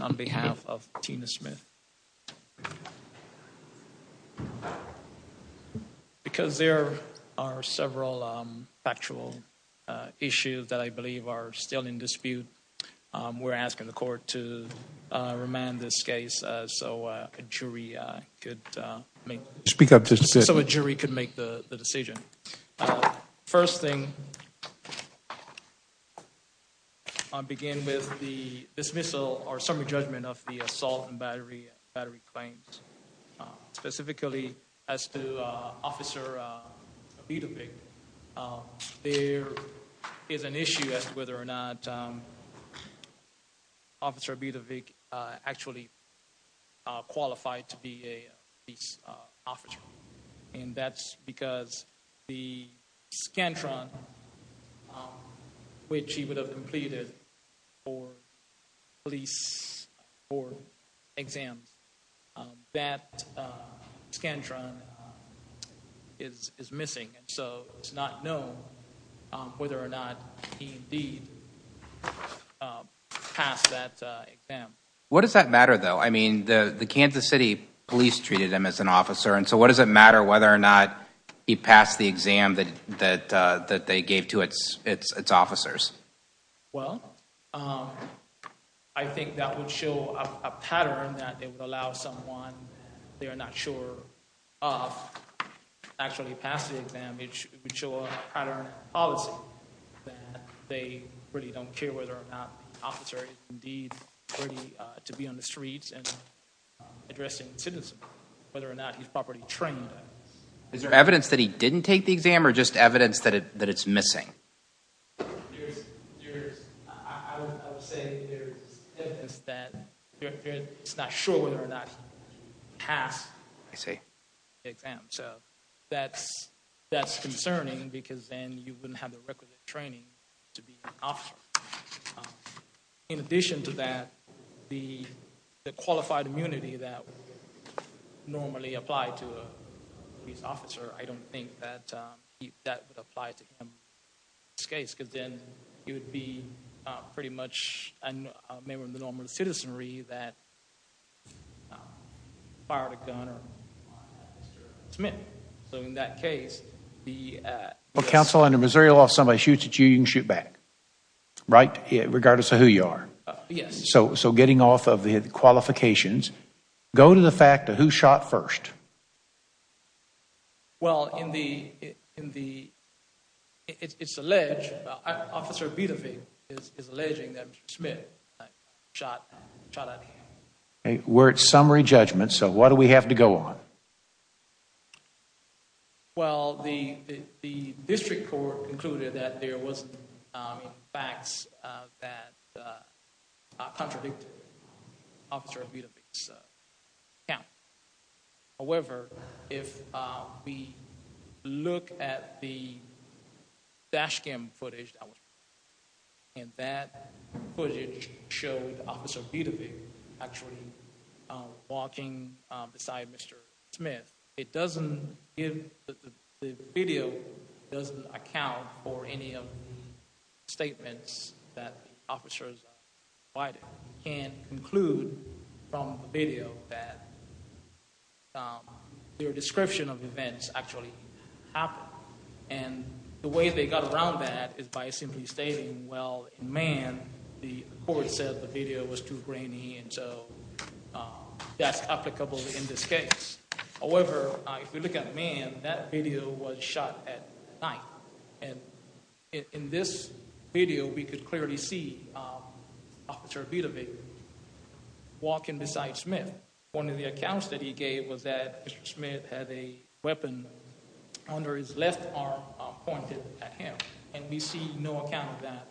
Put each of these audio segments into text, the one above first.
on behalf of Tina Smith. Because there are several factual issues that I believe are still in dispute, we're asking the court to remand this case so a jury could make the decision. First thing, I'll begin with the dismissal or summary judgment of the assault and battery claims. Specifically, as to Officer Abedovic, there is an issue as to whether or not Officer Abedovic actually qualified to be a police officer. And that's because the Scantron, which he would have completed for police for exams, that Scantron is missing. So it's not known whether or not he indeed passed that exam. What does that matter though? I mean, the Kansas City police treated him as an Well, I think that would show a pattern that it would allow someone they are not sure of to actually pass the exam, it would show a pattern in policy that they really don't care whether or not the officer is indeed ready to be on the streets and addressing citizens, whether or not he's properly trained. Is there evidence that he didn't take the exam or just evidence that it that it's missing? That's concerning because then you wouldn't have the requisite training to be an officer. In addition to that, the qualified immunity that normally applied to a police officer, I don't think that that would apply to him in this case because then he would be pretty much a member of the normal citizenry that fired a gun or fired a submit. So in that case, the Well, counsel, under Missouri law, if somebody shoots at you, you can shoot back, right? Regardless of who you are. Yes. So getting off of the qualifications, go to the fact that who shot first? Well, in the in the it's alleged officer is alleging that Smith shot shot at him. We're at summary judgment. So what do we have to go on? Well, the the district court concluded that there was facts that contradict officer. So, yeah. However, if we look at the dash cam footage, and that footage showed officer actually walking beside Mr. Smith, it doesn't give the video doesn't account for any of the statements that officers can include. From video that their description of events actually happen and the way they got around that is by simply stating, well, man, the court said the video was too grainy. And so that's applicable in this case. However, if you look at man, that video was shot at night. And in this video, we could clearly see officer walking beside Smith. One of the accounts that he gave was that Smith had a weapon under his left arm pointed at him. And we see no account of that.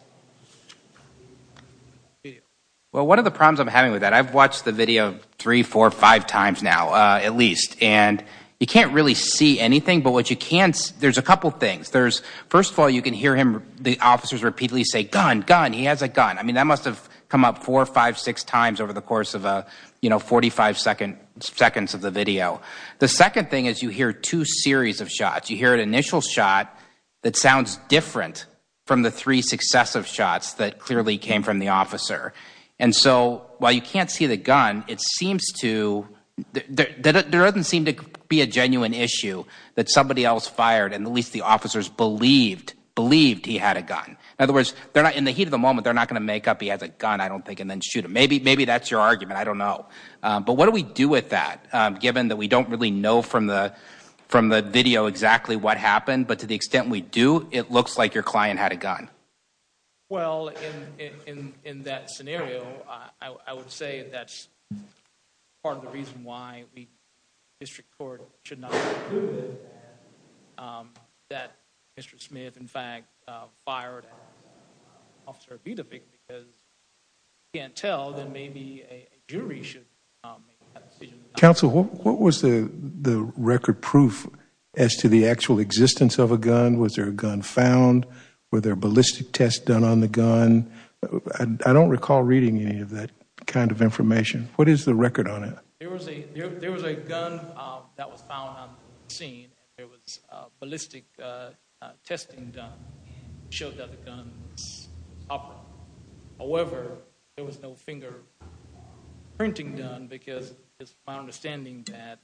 Well, one of the problems I'm having with that, I've watched the video three, four or five times now at least, and you can't really see anything. But what you can see, there's a couple of things. There's first of all, you can hear him. The officers repeatedly say, gun, gun. He has a gun. I mean, that must have come up four or five, six times over the course of a, you know, 45 seconds of the video. The second thing is you hear two series of shots. You hear an initial shot that sounds different from the three successive shots that clearly came from the officer. And so while you can't see the gun, it seems to, there doesn't seem to be a genuine issue that somebody else fired. And at least the officers believed, believed he had a gun. In other words, they're not, in the heat of the moment, they're not going to make up he has a gun, I don't think, and then shoot him. Maybe that's your argument. I don't know. But what do we do with that, given that we don't really know from the video exactly what happened? But to the extent we do, it looks like your client had a gun. Well, in that scenario, I would say that's part of the reason why the district court should not that Mr. Smith, in fact, fired Officer Vidavic because you can't tell that maybe a jury should make that decision. Counsel, what was the record proof as to the actual existence of a gun? Was there a gun found? Were there ballistic tests done on the gun? I don't recall reading any of that kind of information. What is the record on it? There was a, there was a gun that was found on the scene. There was a ballistic testing done, showed that the gun was proper. However, there was no finger printing done because it's my understanding that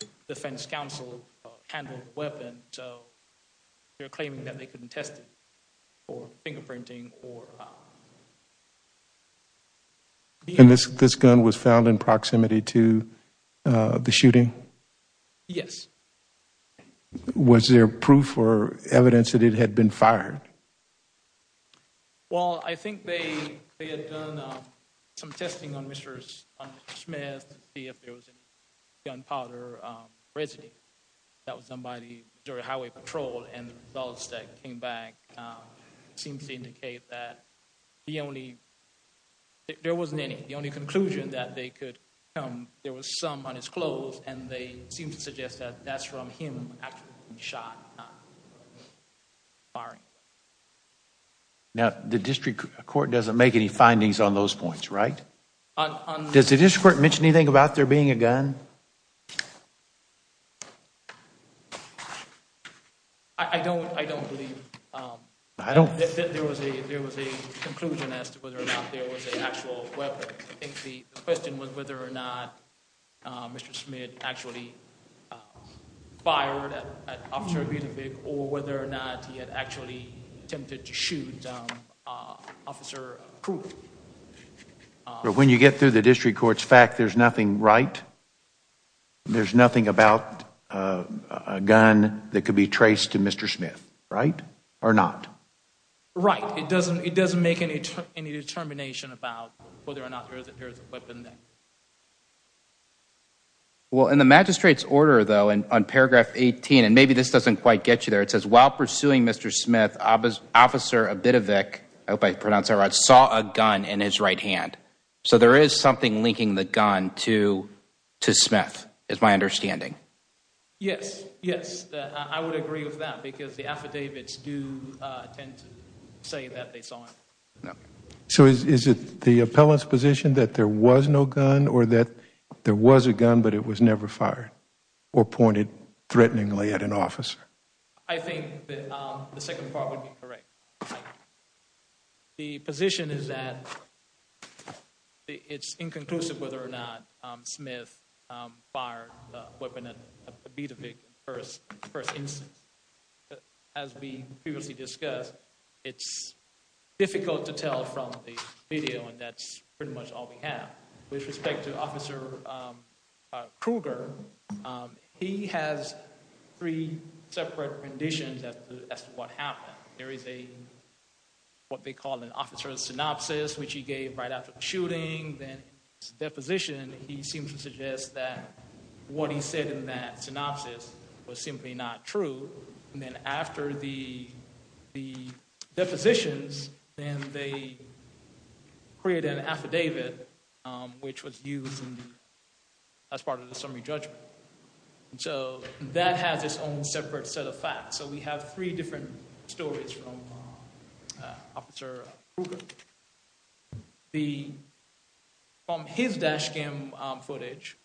the defense counsel handled the weapon. So they're claiming that they couldn't test it for finger printing. And this gun was found in proximity to the shooting? Yes. Was there proof or evidence that it had been fired? Well, I think they had done some testing on Mr. Smith to see if there was any gunpowder residue that was done by the Missouri Highway Patrol and the results that came back seemed to indicate that the only, there wasn't any. The only conclusion that they could come, there was some on his clothes and they seem to suggest that that's from him actually being shot, not firing. Now, the district court doesn't make any findings on those points, right? Does the district court mention anything about there being a gun? I don't, I don't believe, um, there was a, there was a conclusion as to whether or not there was an actual weapon. I think the question was whether or not Mr. Smith actually fired an officer or whether or not he had actually attempted to shoot Officer Crute. When you get through the district court's fact, there's nothing right? There's nothing about a gun that could be traced to Mr. Smith, right? Or not? Right. It doesn't, it doesn't make any, any determination about whether or not there's a weapon. Well, in the magistrate's order though, and on paragraph 18, and maybe this doesn't quite get you there, while pursuing Mr. Smith, Officer Abedovic, I hope I pronounced that right, saw a gun in his right hand. So there is something linking the gun to, to Smith, is my understanding. Yes, yes, I would agree with that because the affidavits do tend to say that they saw him. No. So is it the appellant's position that there was no gun or that there was a gun but it was never fired or pointed threateningly at an officer? I think that the second part would be correct. The position is that it's inconclusive whether or not Smith fired a weapon at Abedovic first, first instance. As we previously discussed, it's difficult to tell from the video and that's pretty much all we have. With respect to Officer Kruger, he has three separate conditions as to what happened. There is a, what they call an officer's synopsis, which he gave right after the shooting. Then his deposition, he seems to suggest that what he said in that synopsis was simply not true. And then after the, the depositions, then they create an affidavit which was used as part of the summary judgment. So that has its own separate set of facts. So we have three different stories from Officer Kruger. The, from his dash cam footage,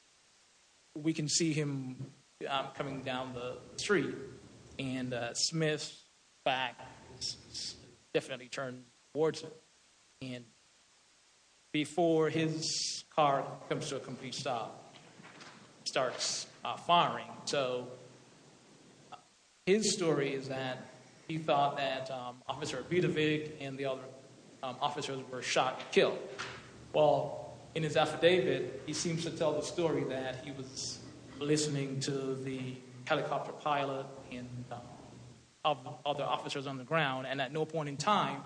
we can see him coming down the street. And Smith's back definitely turned towards him. And before his car comes to a complete stop, starts firing. So his story is that he thought that Officer Abedovic and the other officers were shot and killed. Well, in his affidavit, he seems to tell the story that he was listening to the helicopter pilot and other officers on the ground. And at no point in time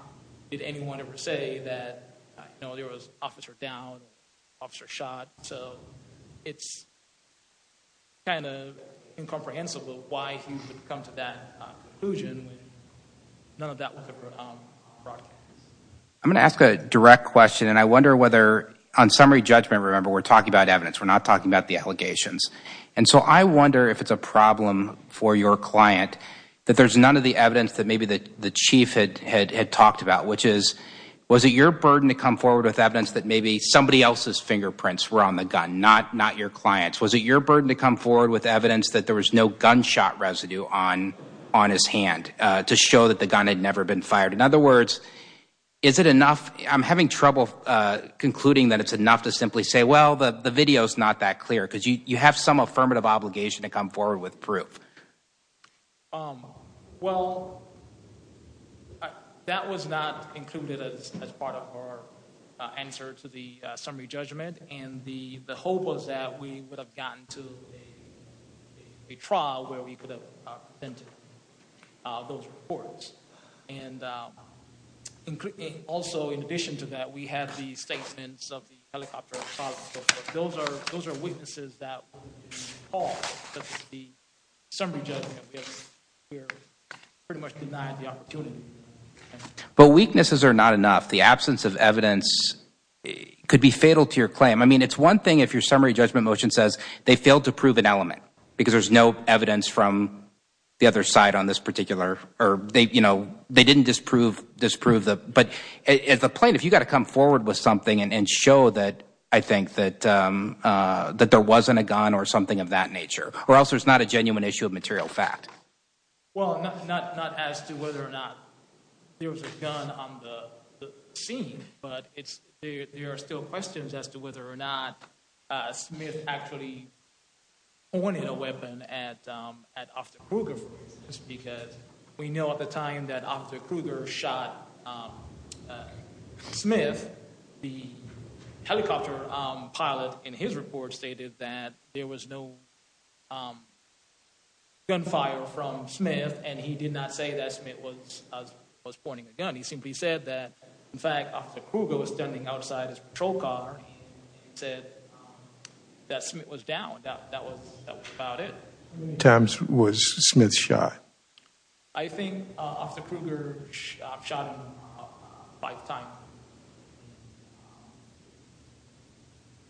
did anyone ever say that, you know, there was officer down, officer shot. So it's kind of incomprehensible why he would come to that conclusion when none of that was ever broadcast. I'm going to ask a direct question. And I wonder whether on summary judgment, remember, we're talking about evidence. We're not talking about the allegations. And so I wonder if it's a problem for your client that there's none of the evidence that maybe the chief had talked about, which is, was it your burden to come forward with evidence that maybe somebody else's fingerprints were on the gun, not your clients? Was it your burden to come forward with evidence that there was no gunshot residue on his hand to show that the gun had never been fired? In other words, is it enough? I'm having trouble concluding that it's enough to simply say, well, the video is not that clear. You have some affirmative obligation to come forward with proof. Well, that was not included as part of our answer to the summary judgment. And the hope was that we would have gotten to a trial where we could have presented those reports. And also, in addition to that, we have the statements of the helicopter. Those are, those are weaknesses that we call the summary judgment because we're pretty much denied the opportunity. But weaknesses are not enough. The absence of evidence could be fatal to your claim. I mean, it's one thing if your summary judgment motion says they failed to prove an element because there's no evidence from the other side on this particular, or they, you know, they didn't disprove, disprove that. As a plaintiff, you've got to come forward with something and show that, I think, that there wasn't a gun or something of that nature. Or else there's not a genuine issue of material fact. Well, not as to whether or not there was a gun on the scene. But there are still questions as to whether or not Smith actually pointed a weapon at We know at the time that Officer Kruger shot Smith, the helicopter pilot in his report stated that there was no gunfire from Smith and he did not say that Smith was pointing a gun. He simply said that, in fact, Officer Kruger was standing outside his patrol car and he said that Smith was down. That was about it. Times was Smith's shot. I think Officer Kruger shot him five times.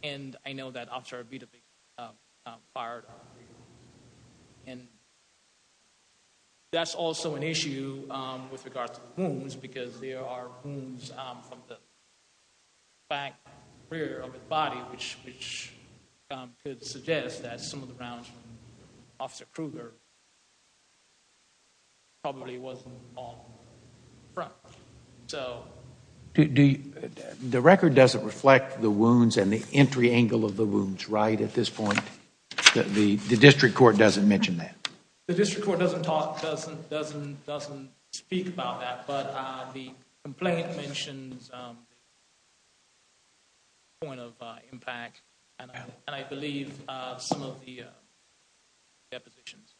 And I know that Officer Avitovich fired. And that's also an issue with regards to wounds because there are wounds from the rear of his body, which could suggest that some of the rounds from Officer Kruger probably wasn't on the front. The record doesn't reflect the wounds and the entry angle of the wounds, right, at this point? The district court doesn't mention that? The district court doesn't talk, doesn't speak about that. The complaint mentions the point of impact and I believe some of the depositions.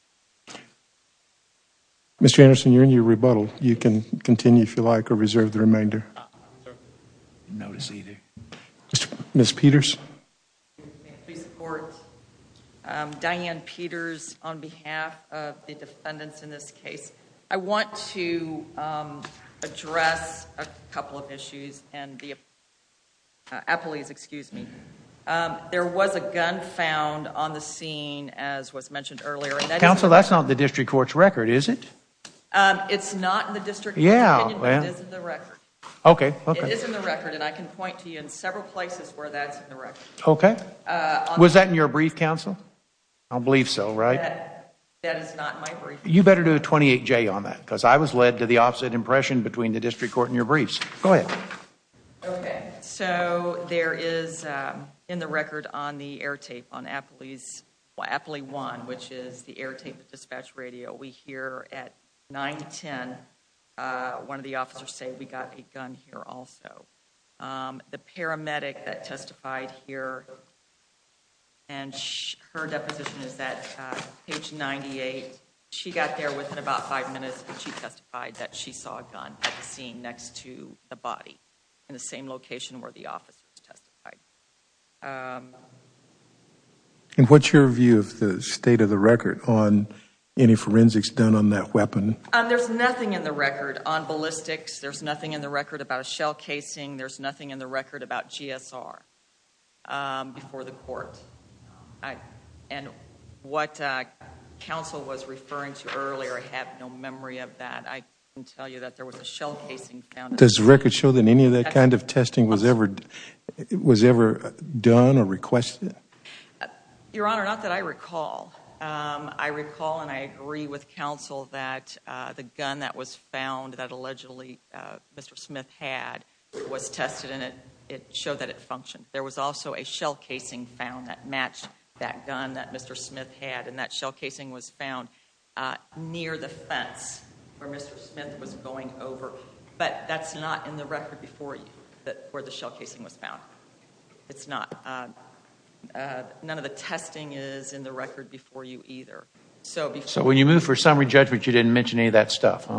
Mr. Anderson, you're in your rebuttal. You can continue, if you like, or reserve the remainder. Noticed either. Ms. Peters. Please support Diane Peters on behalf of the defendants in this case. I want to address a couple of issues. There was a gun found on the scene, as was mentioned earlier. Counsel, that's not the district court's record, is it? It's not in the district court's opinion, but it is in the record. Okay, okay. It is in the record and I can point to you in several places where that's in the record. Okay. Was that in your brief, counsel? I believe so, right? That is not in my brief. You better do a 28-J on that because I was led to the opposite impression between the district court and your briefs. Go ahead. Okay. So there is in the record on the air tape on Appley 1, which is the air tape dispatch radio, we hear at 9-10, one of the officers say we got a gun here also. The paramedic that testified here and her deposition is at page 98. She got there within about five minutes and she testified that she saw a gun at the scene next to the body in the same location where the officer testified. And what's your view of the state of the record on any forensics done on that weapon? There's nothing in the record on ballistics. There's nothing in the record about a shell casing. There's nothing in the record about GSR before the court. I and what counsel was referring to earlier, I have no memory of that. I can tell you that there was a shell casing found. Does the record show that any of that kind of testing was ever done or requested? Your Honor, not that I recall. I recall and I agree with counsel that the gun that was found that allegedly Mr. Smith had was tested and it showed that it functioned. There was also a shell casing found that matched that gun that Mr. Smith had and that shell casing was found near the fence where Mr. Smith was going over. But that's not in the record before you where the shell casing was found. It's not. None of the testing is in the record before you either. So when you move for summary judgment, you didn't mention any of that stuff?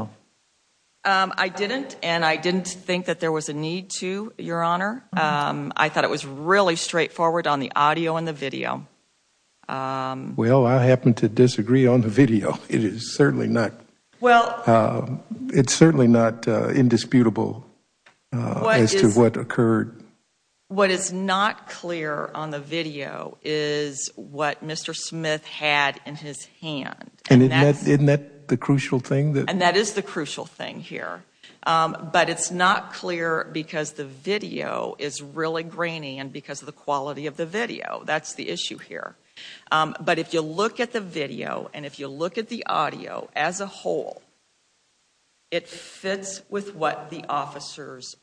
I didn't and I didn't think that there was a need to, Your Honor. I thought it was really straightforward on the audio and the video. Well, I happen to disagree on the video. It is certainly not. It's certainly not indisputable as to what occurred. What is not clear on the video is what Mr. Smith had in his hand. And isn't that the crucial thing? And that is the crucial thing here. But it's not clear because the video is really grainy and because of the quality of the video. That's the issue here. But if you look at the video and if you look at the audio as a whole, it fits with what the officers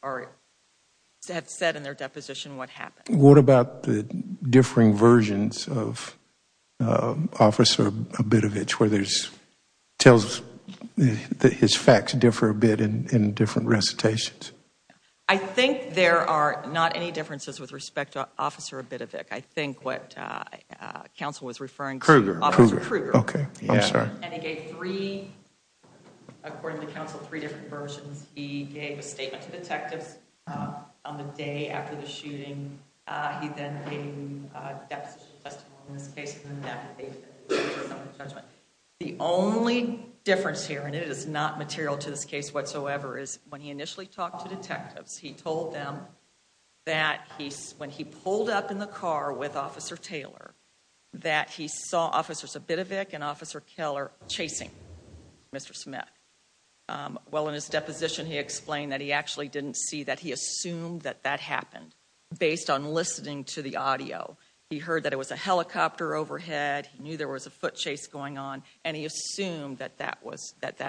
have said in their deposition what happened. What about the differing versions of a bit of it where there's tells that his facts differ a bit in different recitations? I think there are not any differences with respect to officer a bit of it. I think what council was referring to Kruger. Okay, yeah, I'm sorry. And he gave three, according to counsel, three different versions. He gave a statement to detectives on the day after the shooting. He then gave a deposition testimony in this case. The only difference here, and it is not material to this case whatsoever, is when he initially talked to detectives, he told them that he's when he pulled up in the car with officer Taylor, that he saw officers a bit of it and officer Keller chasing Mr. Smith. Well, in his deposition, he explained that he actually didn't see that he assumed that that happened based on listening to the audio. He heard that it was a helicopter overhead. He knew there was a foot chase going on, and he assumed that that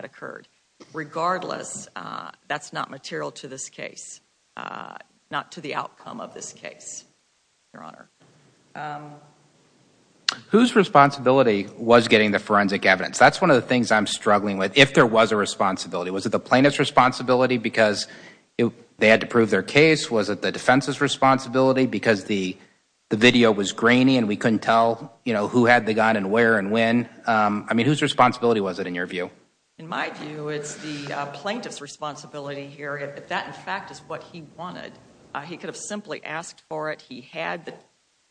occurred. Regardless, that's not material to this case, not to the outcome of this case, your honor. Whose responsibility was getting the forensic evidence? That's one of the things I'm struggling with. If there was a responsibility, was it the plaintiff's responsibility because they had to prove their case? Was it the defense's responsibility because the video was grainy and we couldn't tell who had the gun and where and when? I mean, whose responsibility was it in your view? In my view, it's the plaintiff's responsibility here. If that, in fact, is what he wanted, he could have simply asked for it.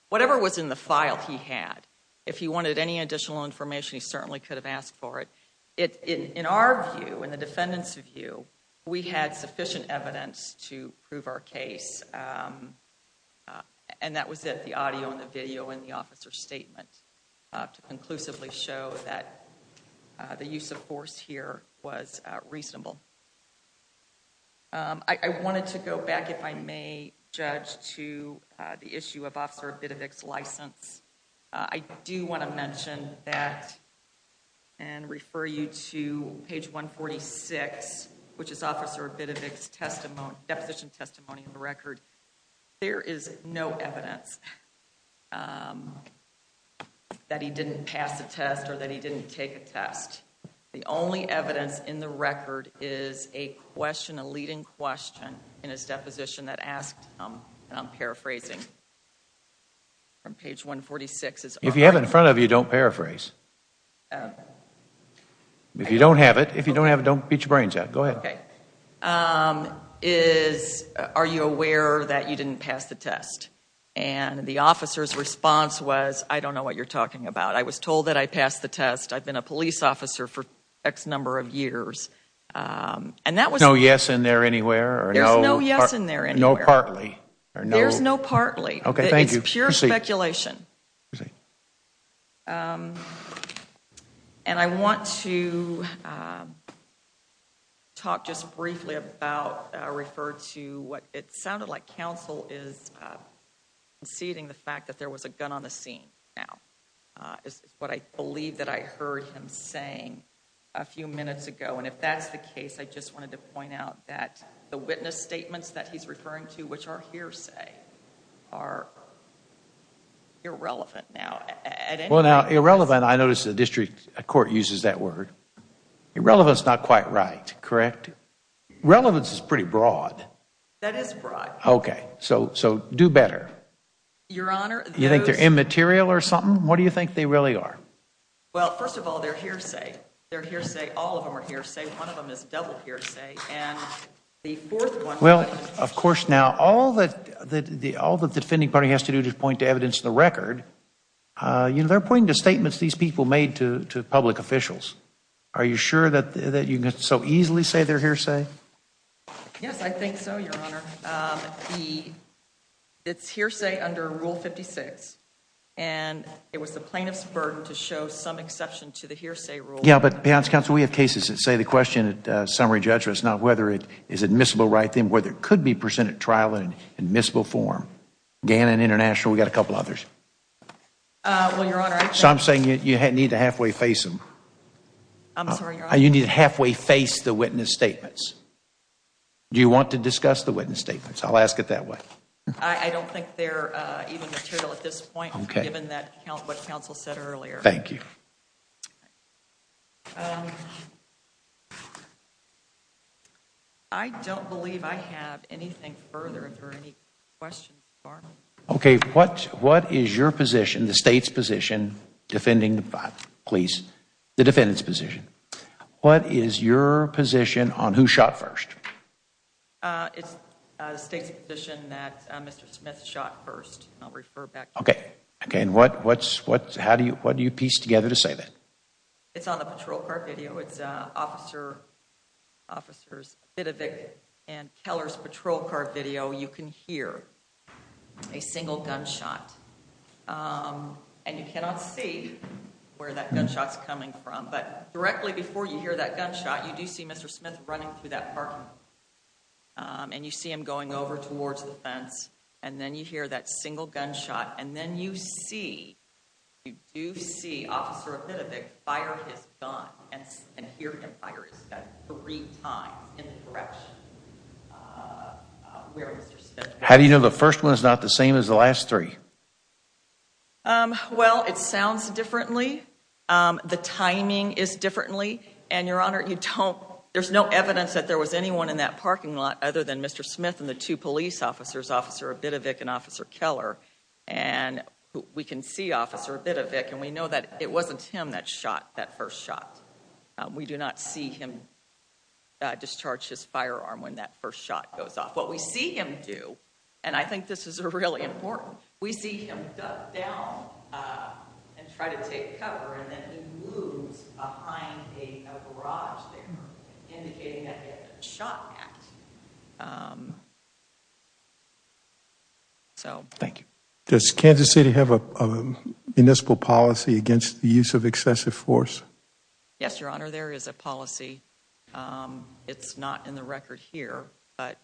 Whatever was in the file he had, if he wanted any additional information, he certainly could have asked for it. In our view, in the defendant's view, we had sufficient evidence to prove our case, and that was it, the audio and the video and the officer's statement to conclusively show that the use of force here was reasonable. I wanted to go back, if I may, Judge, to the issue of Officer Bidovic's license. I do want to mention that and refer you to page 146, which is Officer Bidovic's deposition testimony of the record. There is no evidence that he didn't pass a test or that he didn't take a test. The only evidence in the record is a question, a leading question in his deposition that asked, and I'm paraphrasing, from page 146. If you have it in front of you, don't paraphrase. If you don't have it, if you don't have it, don't beat your brains out. Go ahead. Are you aware that you didn't pass the test? The officer's response was, I don't know what you're talking about. I was told that I passed the test. I've been a police officer for X number of years. And that was... No yes in there anywhere? There's no yes in there anywhere. No partly? There's no partly. Okay, thank you. It's pure speculation. And I want to talk just briefly about, refer to what it sounded like counsel is conceding the fact that there was a gun on the scene now. It's what I believe that I heard him saying a few minutes ago. And if that's the case, I just wanted to point out that the witness statements that he's referring to, which are hearsay, are irrelevant now. Well now irrelevant, I noticed the district court uses that word. Irrelevant is not quite right, correct? Relevance is pretty broad. That is broad. Okay, so do better. Your honor... You think they're immaterial or something? What do you think they really are? Well, first of all, they're hearsay. They're hearsay. All of them are hearsay. One of them is double hearsay. And the fourth one... Well, of course now all that the all the defending party has to do to point to evidence in the record, you know, they're pointing to statements these people made to public officials. Are you sure that you can so easily say they're hearsay? Yes, I think so, your honor. It's hearsay under rule 56. And it was the plaintiff's burden to show some exception to the hearsay rule. Yeah, but we have cases that say the question at summary judgment is not whether it is admissible right then, whether it could be presented trial in admissible form. Gannon International, we got a couple others. Well, your honor... So I'm saying you need to halfway face them. I'm sorry, your honor. You need to halfway face the witness statements. Do you want to discuss the witness statements? I'll ask it that way. I don't think they're even material at this point, given what counsel said earlier. Thank you. Um, I don't believe I have anything further if there are any questions, your honor. Okay, what what is your position, the state's position, defending the police, the defendant's position? What is your position on who shot first? It's the state's position that Mr. Smith shot first. I'll refer back. Okay, okay. And what what's what how do you what do you piece together to say that? It's on the patrol car video. It's officer officer's bit of it and Keller's patrol car video. You can hear a single gunshot. And you cannot see where that gunshot's coming from. But directly before you hear that gunshot, you do see Mr. Smith running through that parking. And you see him going over towards the fence. And then you hear that single gunshot. And then you see, you do see officer a bit of a fire. He's gone. And and hear him fire three times in the direction. How do you know the first one is not the same as the last three? Well, it sounds differently. The timing is differently. And your honor, you don't there's no evidence that there was anyone in that parking lot other than Mr. Smith and the two police officers, officer a bit of it and officer Keller. And we can see officer a bit of it. And we know that it wasn't him that shot that first shot. We do not see him discharge his firearm when that first shot goes off. What we see him do. And I think this is a really important. We see him duck down and try to take cover. And then he moves behind a garage there indicating that shot at. Um, so thank you. Does Kansas City have a municipal policy against the use of excessive force? Yes, your honor, there is a policy. It's not in the record here. But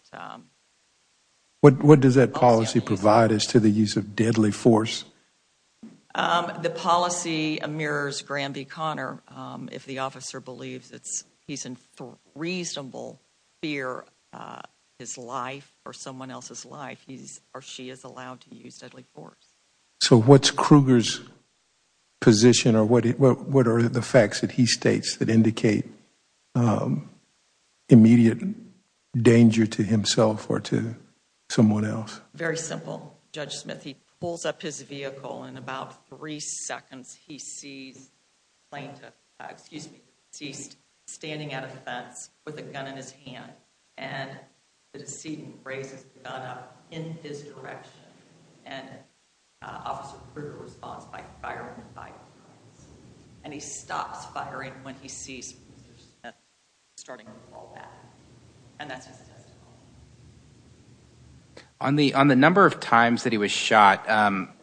what does that policy provide as to the use of deadly force? The policy mirrors Graham B. His life or someone else's life, he's or she is allowed to use deadly force. So what's Kruger's position or what what are the facts that he states that indicate immediate danger to himself or to someone else? Very simple. Judge Smith, he pulls up his vehicle in about three seconds. He sees plaintiff, excuse me, ceased standing at a fence with a gun in his hand. And the decedent raises the gun up in his direction and officer Kruger responds by firing. And he stops firing when he sees starting to fall back. On the on the number of times that he was shot,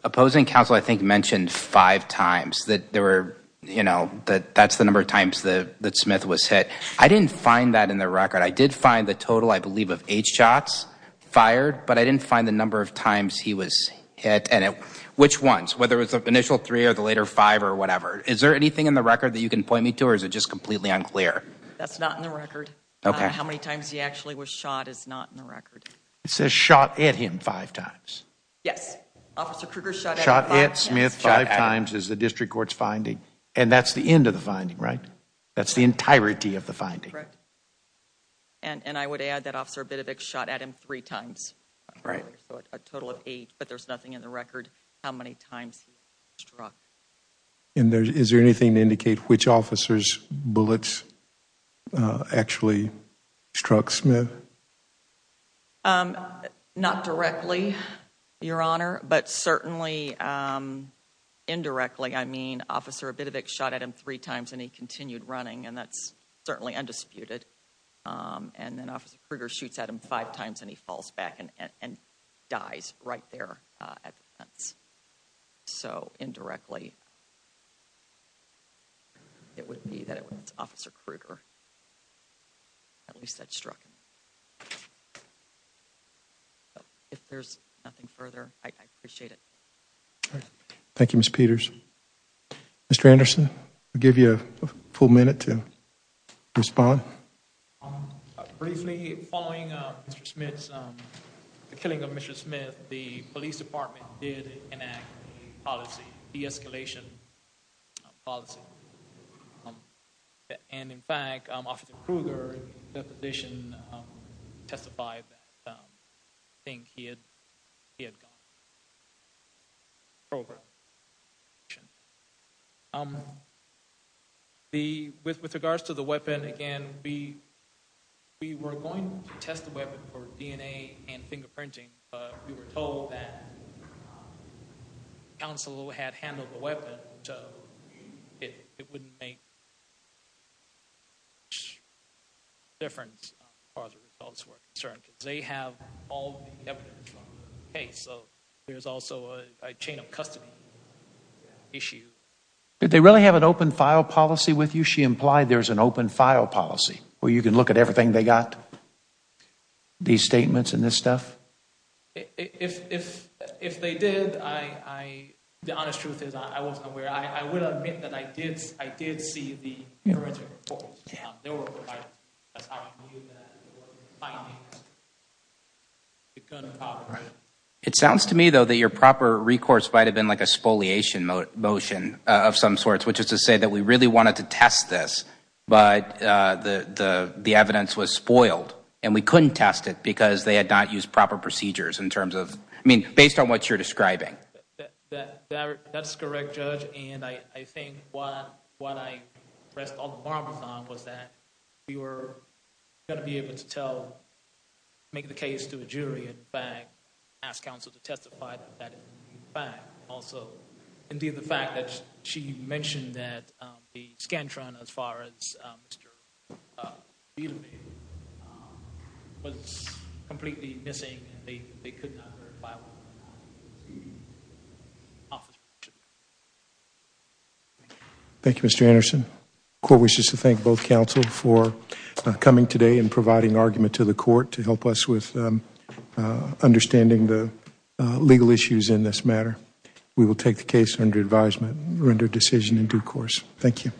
opposing counsel, I think, mentioned five times that there were, you know, that that's the number of times that Smith was hit. I didn't find that in the record. I did find the total, I believe, of eight shots fired. But I didn't find the number of times he was hit and which ones, whether it's the initial three or the later five or whatever. Is there anything in the record that you can point me to or is it just completely unclear? That's not in the record. Okay. How many times he actually was shot is not in the record. It says shot at him five times. Yes. Officer Kruger shot at Smith five times as the district court's finding. And that's the end of the finding, right? That's the entirety of the finding. And I would add that Officer Bedevic shot at him three times. Right. A total of eight. But there's nothing in the record how many times he struck. And is there anything to indicate which officers' bullets actually struck Smith? Not directly, Your Honor, but certainly indirectly. I mean, Officer Bedevic shot at him three times and he continued running. And that's certainly undisputed. And then Officer Kruger shoots at him five times and he falls back and dies right there. So indirectly, it would be that it was Officer Kruger at least that struck him. If there's nothing further, I appreciate it. Thank you, Ms. Peters. Mr. Anderson, I'll give you a full minute to respond. Briefly, following Mr. Smith's, the killing of Mr. Smith, the police department did enact a policy, de-escalation policy. And in fact, Officer Kruger, in that position, testified that I think he had gone over. With regards to the weapon, again, we were going to test the weapon for DNA and fingerprinting. But we were told that counsel had handled the weapon, so it wouldn't make difference as far as the results were concerned. They have all the evidence, so there's also a chain of custody issue. Did they really have an open file policy with you? She implied there's an open file policy where you can look at everything they got, these statements and this stuff? If they did, the honest truth is I wasn't aware. I would admit that I did see the original report. It sounds to me, though, that your proper recourse might have been like a spoliation motion of some sorts, which is to say that we really wanted to test this, but the evidence was spoiled. And we couldn't test it because they had not used proper procedures in terms of, I mean, based on what you're describing. That's correct, Judge. And I think what I pressed all the bombs on was that we were going to be able to tell make the case to a jury, in fact, ask counsel to testify that it was a fact. Also, indeed, the fact that she mentioned that the Scantron, as far as Mr. Bieleveld, was completely missing, and they could not verify what it was. Thank you, Mr. Anderson. The court wishes to thank both counsel for coming today and providing argument to the case with understanding the legal issues in this matter. We will take the case under advisement and render a decision in due course. Thank you.